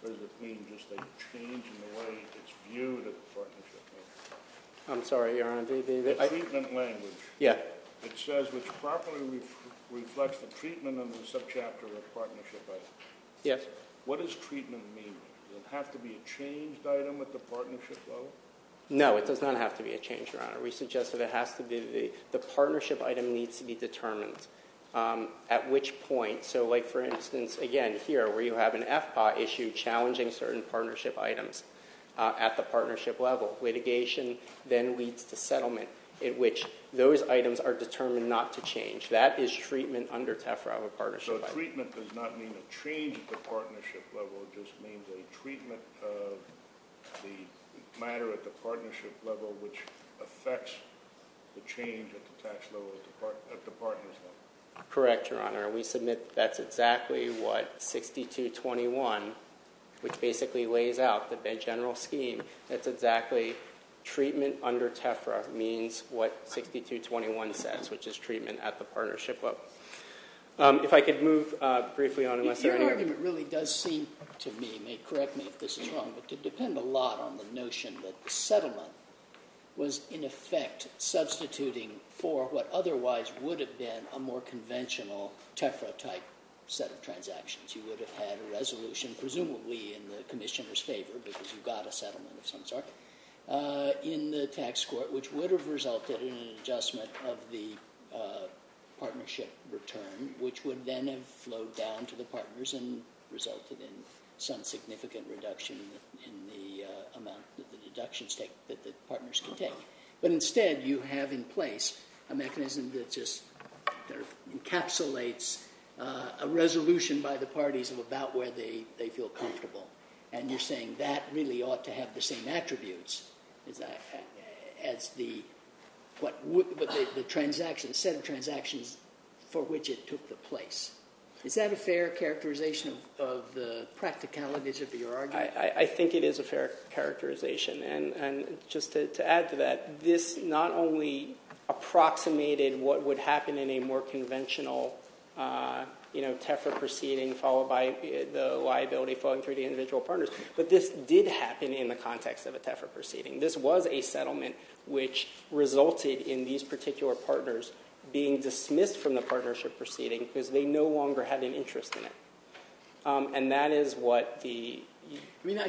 or does it mean just a change in the way it's viewed at the partnership level? I'm sorry, Your Honor. The treatment language. Yeah. It says, which properly reflects the treatment under the subchapter of partnership items. Yes. What does treatment mean? Does it have to be a changed item at the partnership level? No, it does not have to be a change, Your Honor. We suggest that it has to be the partnership item needs to be determined at which point, so like, for instance, again, here where you have an FPA issue challenging certain partnership items at the partnership level. Litigation then leads to settlement at which those items are determined not to change. That is treatment under TEFRA of a partnership item. So treatment does not mean a change at the partnership level. It just means a treatment of the matter at the partnership level, which affects the change at the tax level at the partner's level. Correct, Your Honor. We submit that's exactly what 6221, which basically lays out the general scheme. That's exactly treatment under TEFRA means what 6221 says, which is treatment at the partnership level. If I could move briefly on. Your argument really does seem to me, and correct me if this is wrong, but to depend a lot on the notion that the settlement was, in effect, substituting for what otherwise would have been a more conventional TEFRA-type set of transactions. You would have had a resolution presumably in the commissioner's favor because you got a settlement of some sort in the tax court, which would have resulted in an adjustment of the partnership return, which would then have flowed down to the partners and resulted in some significant reduction in the amount that the partners can take. But instead, you have in place a mechanism that just encapsulates a resolution by the parties of about where they feel comfortable. And you're saying that really ought to have the same attributes as the set of transactions for which it took the place. Is that a fair characterization of the practicalities of your argument? I think it is a fair characterization. And just to add to that, this not only approximated what would happen in a more conventional TEFRA proceeding followed by the liability flowing through the individual partners, but this did happen in the context of a TEFRA proceeding. This was a settlement which resulted in these particular partners being dismissed from the partnership proceeding because they no longer had an interest in it. And that is what the- I mean, I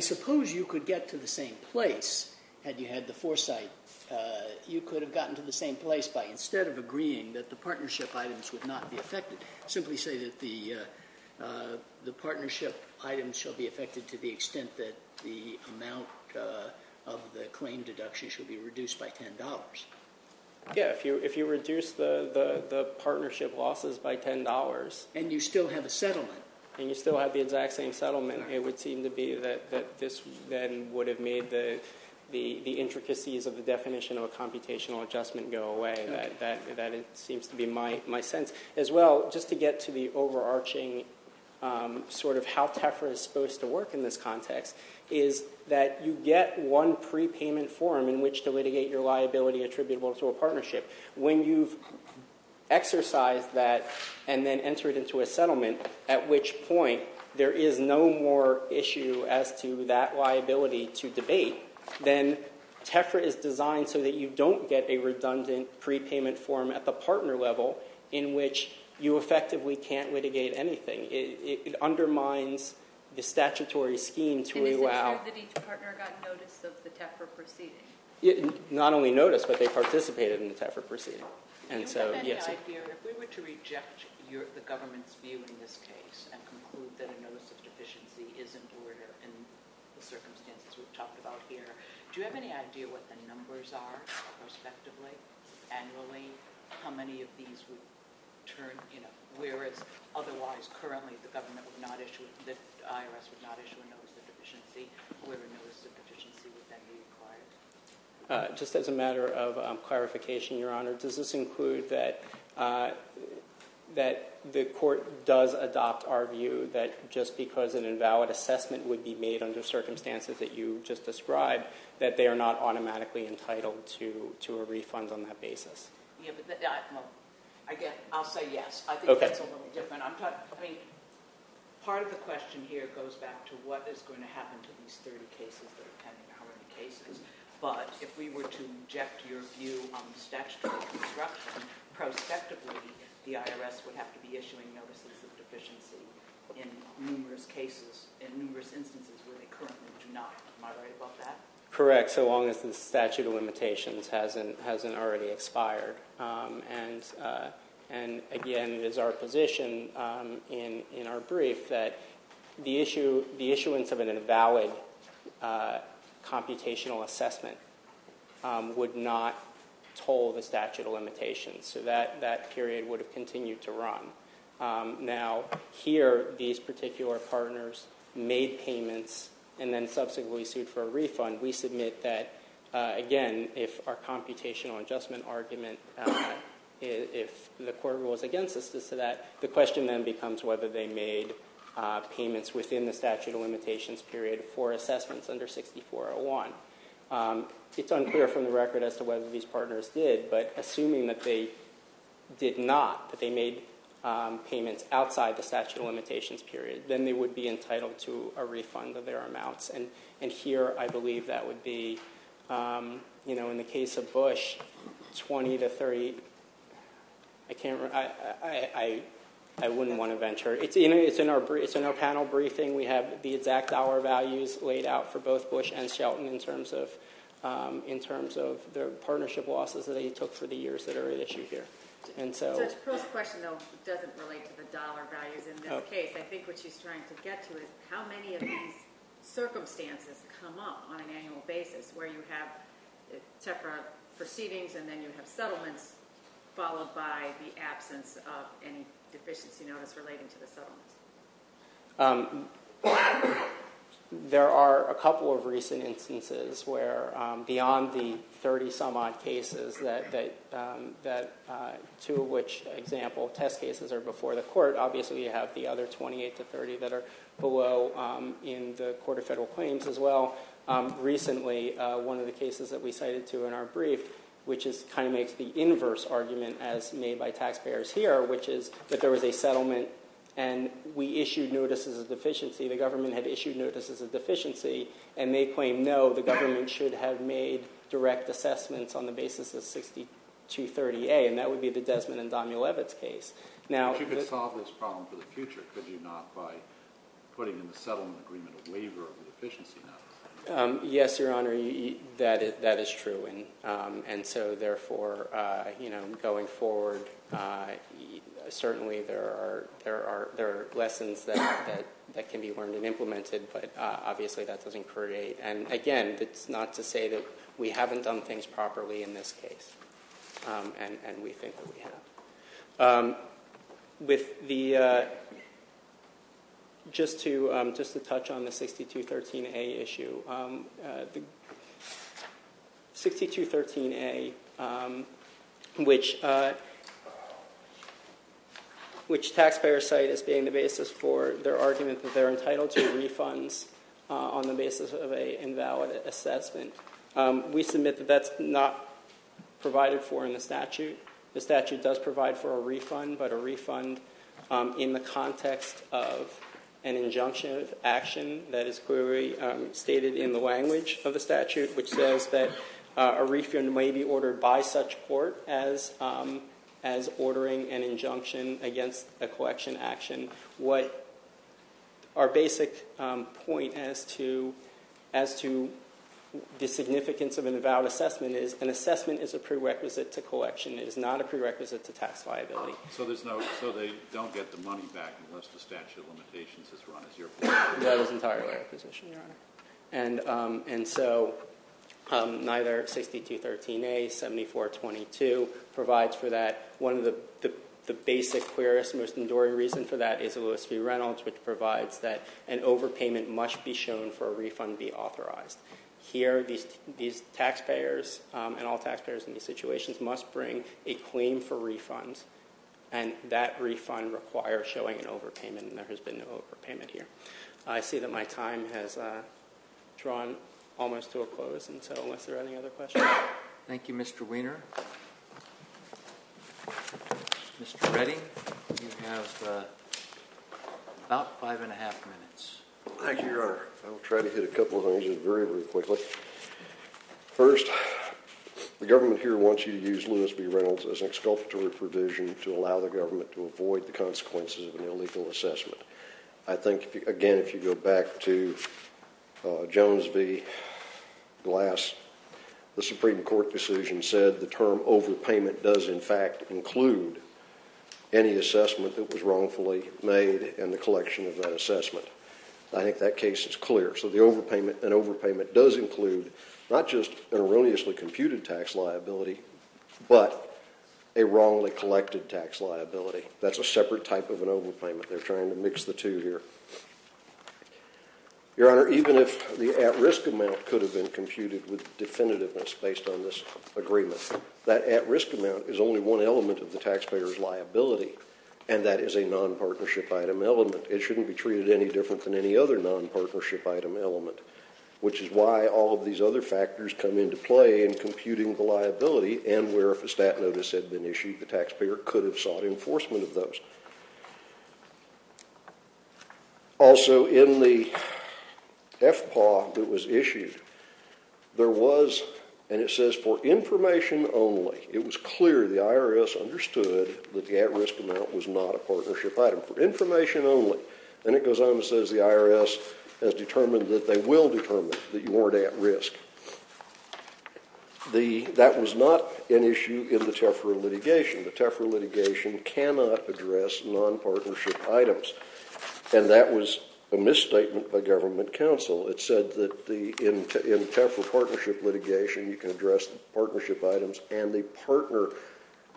suppose you could get to the same place had you had the foresight. You could have gotten to the same place by instead of agreeing that the partnership items would not be affected, simply say that the partnership items shall be affected to the extent that the amount of the claim deduction should be reduced by $10. Yeah, if you reduce the partnership losses by $10- And you still have a settlement. And you still have the exact same settlement. It would seem to be that this then would have made the intricacies of the definition of a computational adjustment go away. That seems to be my sense. As well, just to get to the overarching sort of how TEFRA is supposed to work in this context is that you get one prepayment form in which to litigate your liability attributable to a partnership. When you've exercised that and then entered into a settlement, at which point there is no more issue as to that liability to debate, then TEFRA is designed so that you don't get a redundant prepayment form at the partner level in which you effectively can't litigate anything. It undermines the statutory scheme to allow- It is ensured that each partner got notice of the TEFRA proceeding. Not only notice, but they participated in the TEFRA proceeding. Do you have any idea, if we were to reject the government's view in this case and conclude that a notice of deficiency is in order in the circumstances we've talked about here, do you have any idea what the numbers are prospectively, annually, how many of these would turn- Where it's otherwise currently the IRS would not issue a notice of deficiency, where a notice of deficiency would then be required? Just as a matter of clarification, Your Honor, does this include that the court does adopt our view that just because an invalid assessment would be made under circumstances that you just described, that they are not automatically entitled to a refund on that basis? Again, I'll say yes. I think that's a little different. Part of the question here goes back to what is going to happen to these 30 cases that are pending. But if we were to reject your view on the statutory construction, prospectively, the IRS would have to be issuing notices of deficiency in numerous instances where they currently do not. Am I right about that? Correct, so long as the statute of limitations hasn't already expired. And again, it is our position in our brief that the issuance of an invalid computational assessment would not toll the statute of limitations. So that period would have continued to run. Now, here, these particular partners made payments and then subsequently sued for a refund. We submit that, again, if our computational adjustment argument, if the court rules against us to that, the question then becomes whether they made payments within the statute of limitations period for assessments under 6401. It's unclear from the record as to whether these partners did, but assuming that they did not, that they made payments outside the statute of limitations period, then they would be entitled to a refund of their amounts. And here, I believe that would be, in the case of Bush, 20 to 30. I can't remember. I wouldn't want to venture. It's in our panel briefing. We have the exact hour values laid out for both Bush and Shelton in terms of their partnership losses that they took for the years that are at issue here. The first question, though, doesn't relate to the dollar values in this case. I think what she's trying to get to is how many of these circumstances come up on an annual basis where you have separate proceedings and then you have settlements followed by the absence of any deficiency notice relating to the settlements. There are a couple of recent instances where beyond the 30-some-odd cases, two of which, for example, test cases, are before the court. Obviously, you have the other 28 to 30 that are below in the Court of Federal Claims as well. Recently, one of the cases that we cited to in our brief, which kind of makes the inverse argument as made by taxpayers here, which is that there was a settlement and we issued notices of deficiency. The government had issued notices of deficiency, and they claimed, no, the government should have made direct assessments on the basis of 6230A, and that would be the Desmond and Daniel Levitz case. If you could solve this problem for the future, could you not, by putting in the settlement agreement a waiver of the deficiency notice? Yes, Your Honor, that is true. Therefore, going forward, certainly there are lessons that can be learned and implemented, but obviously that doesn't create— and again, that's not to say that we haven't done things properly in this case, and we think that we have. Just to touch on the 6213A issue. The 6213A, which taxpayers cite as being the basis for their argument that they're entitled to refunds on the basis of an invalid assessment, we submit that that's not provided for in the statute. The statute does provide for a refund, but a refund in the context of an injunction of action that is clearly stated in the language of the statute, which says that a refund may be ordered by such court as ordering an injunction against a collection action. What our basic point as to the significance of an invalid assessment is an assessment is a prerequisite to collection. It is not a prerequisite to tax liability. So there's no—so they don't get the money back unless the statute of limitations is run, which is your position. That is entirely my position, Your Honor. And so neither 6213A, 7422 provides for that. One of the basic, clearest, most enduring reasons for that is the Lewis v. Reynolds, which provides that an overpayment must be shown for a refund to be authorized. Here, these taxpayers and all taxpayers in these situations must bring a claim for refund, and that refund requires showing an overpayment, and there has been no overpayment here. I see that my time has drawn almost to a close, and so unless there are any other questions. Thank you, Mr. Weiner. Mr. Reddy, you have about five and a half minutes. Thank you, Your Honor. I will try to hit a couple of things very, very quickly. First, the government here wants you to use Lewis v. Reynolds as an exculpatory provision to allow the government to avoid the consequences of an illegal assessment. I think, again, if you go back to Jones v. Glass, the Supreme Court decision said the term overpayment does, in fact, include any assessment that was wrongfully made in the collection of that assessment. I think that case is clear. So an overpayment does include not just an erroneously computed tax liability but a wrongly collected tax liability. That's a separate type of an overpayment. They're trying to mix the two here. Your Honor, even if the at-risk amount could have been computed with definitiveness based on this agreement, that at-risk amount is only one element of the taxpayer's liability, and that is a nonpartnership item element. It shouldn't be treated any different than any other nonpartnership item element, which is why all of these other factors come into play in computing the liability, and where if a stat notice had been issued, the taxpayer could have sought enforcement of those. Also, in the FPAW that was issued, there was, and it says, for information only. It was clear the IRS understood that the at-risk amount was not a partnership item. For information only. And it goes on and says the IRS has determined that they will determine that you weren't at risk. That was not an issue in the Tefra litigation. The Tefra litigation cannot address nonpartnership items, and that was a misstatement by government counsel. It said that in the Tefra partnership litigation, you can address the partnership items and the partner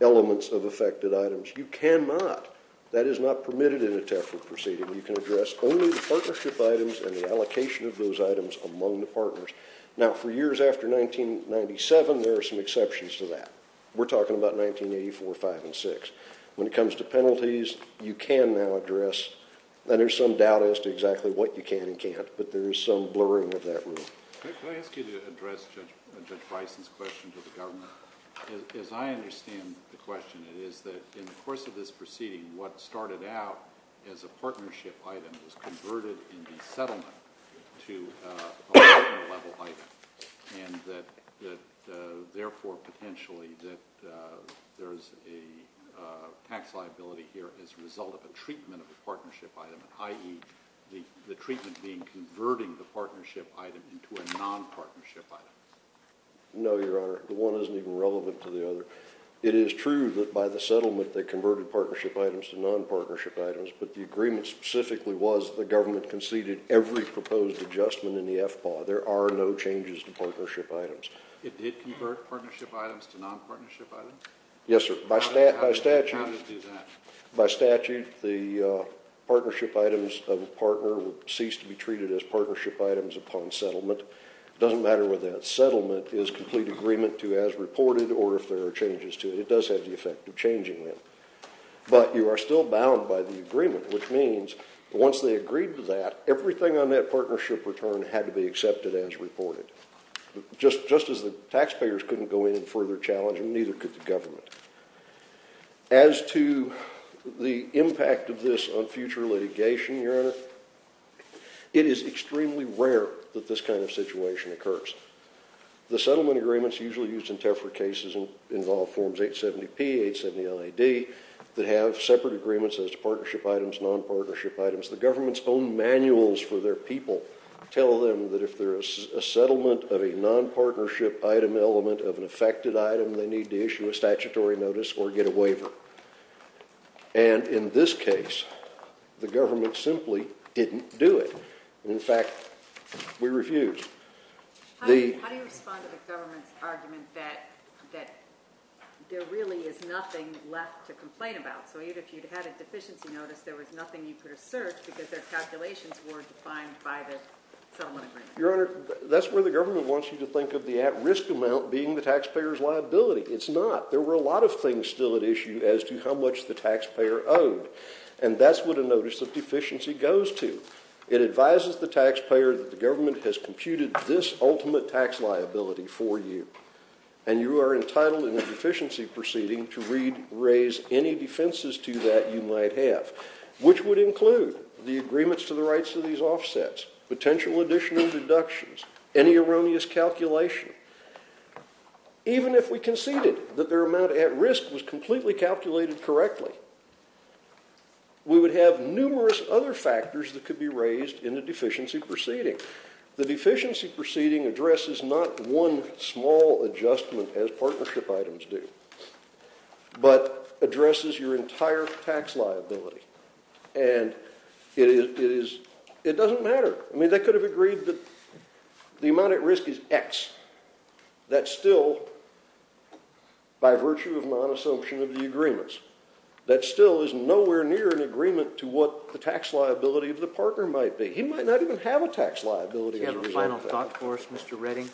elements of affected items. You cannot. That is not permitted in a Tefra proceeding. You can address only the partnership items and the allocation of those items among the partners. Now, for years after 1997, there are some exceptions to that. We're talking about 1984, 5, and 6. When it comes to penalties, you can now address, and there's some doubt as to exactly what you can and can't, but there is some blurring of that rule. Can I ask you to address Judge Bison's question to the government? As I understand the question, it is that in the course of this proceeding, what started out as a partnership item was converted in the settlement to a partner-level item, and that, therefore, potentially, that there's a tax liability here as a result of a treatment of a partnership item, i.e., the treatment being converting the partnership item into a nonpartnership item. No, Your Honor. It is true that by the settlement, they converted partnership items to nonpartnership items, but the agreement specifically was that the government conceded every proposed adjustment in the FPAW. There are no changes to partnership items. It did convert partnership items to nonpartnership items? Yes, sir. By statute... How did it do that? By statute, the partnership items of a partner would cease to be treated as partnership items upon settlement. It doesn't matter whether that settlement is complete agreement to as reported or if there are changes to it. It does have the effect of changing them. But you are still bound by the agreement, which means once they agreed to that, everything on that partnership return had to be accepted as reported. Just as the taxpayers couldn't go in and further challenge them, neither could the government. As to the impact of this on future litigation, Your Honor, it is extremely rare that this kind of situation occurs. The settlement agreements usually used in TEFRA cases involve Forms 870-P, 870-ID, that have separate agreements as to partnership items, nonpartnership items. The government's own manuals for their people tell them that if there is a settlement of a nonpartnership item element of an affected item, they need to issue a statutory notice or get a waiver. And in this case, the government simply didn't do it. In fact, we refused. How do you respond to the government's argument that there really is nothing left to complain about? So even if you'd had a deficiency notice, there was nothing you could assert because their calculations were defined by the settlement agreement. Your Honor, that's where the government wants you to think of the at-risk amount being the taxpayer's liability. It's not. There were a lot of things still at issue as to how much the taxpayer owed. And that's what a notice of deficiency goes to. It advises the taxpayer that the government has computed this ultimate tax liability for you. And you are entitled in a deficiency proceeding to raise any defenses to that you might have, which would include the agreements to the rights of these offsets, potential additional deductions, any erroneous calculation. Even if we conceded that their amount at risk was completely calculated correctly, we would have numerous other factors that could be raised in a deficiency proceeding. The deficiency proceeding addresses not one small adjustment as partnership items do, but addresses your entire tax liability. And it doesn't matter. I mean, they could have agreed that the amount at risk is x. That's still by virtue of non-assumption of the agreements. That still is nowhere near an agreement to what the tax liability of the partner might be. He might not even have a tax liability as a result of that. Do you have a final thought for us, Mr. Redding?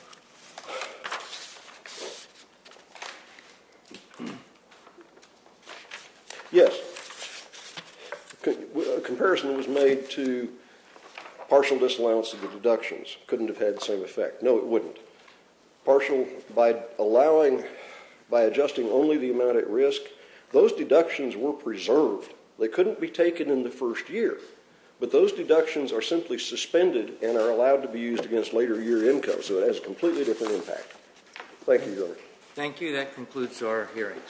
Yes. A comparison was made to partial disallowance of the deductions. Couldn't have had the same effect. No, it wouldn't. By adjusting only the amount at risk, those deductions were preserved. They couldn't be taken in the first year. But those deductions are simply suspended and are allowed to be used against later year income. So it has a completely different impact. Thank you, Governor. Thank you. That concludes our hearings. All rise.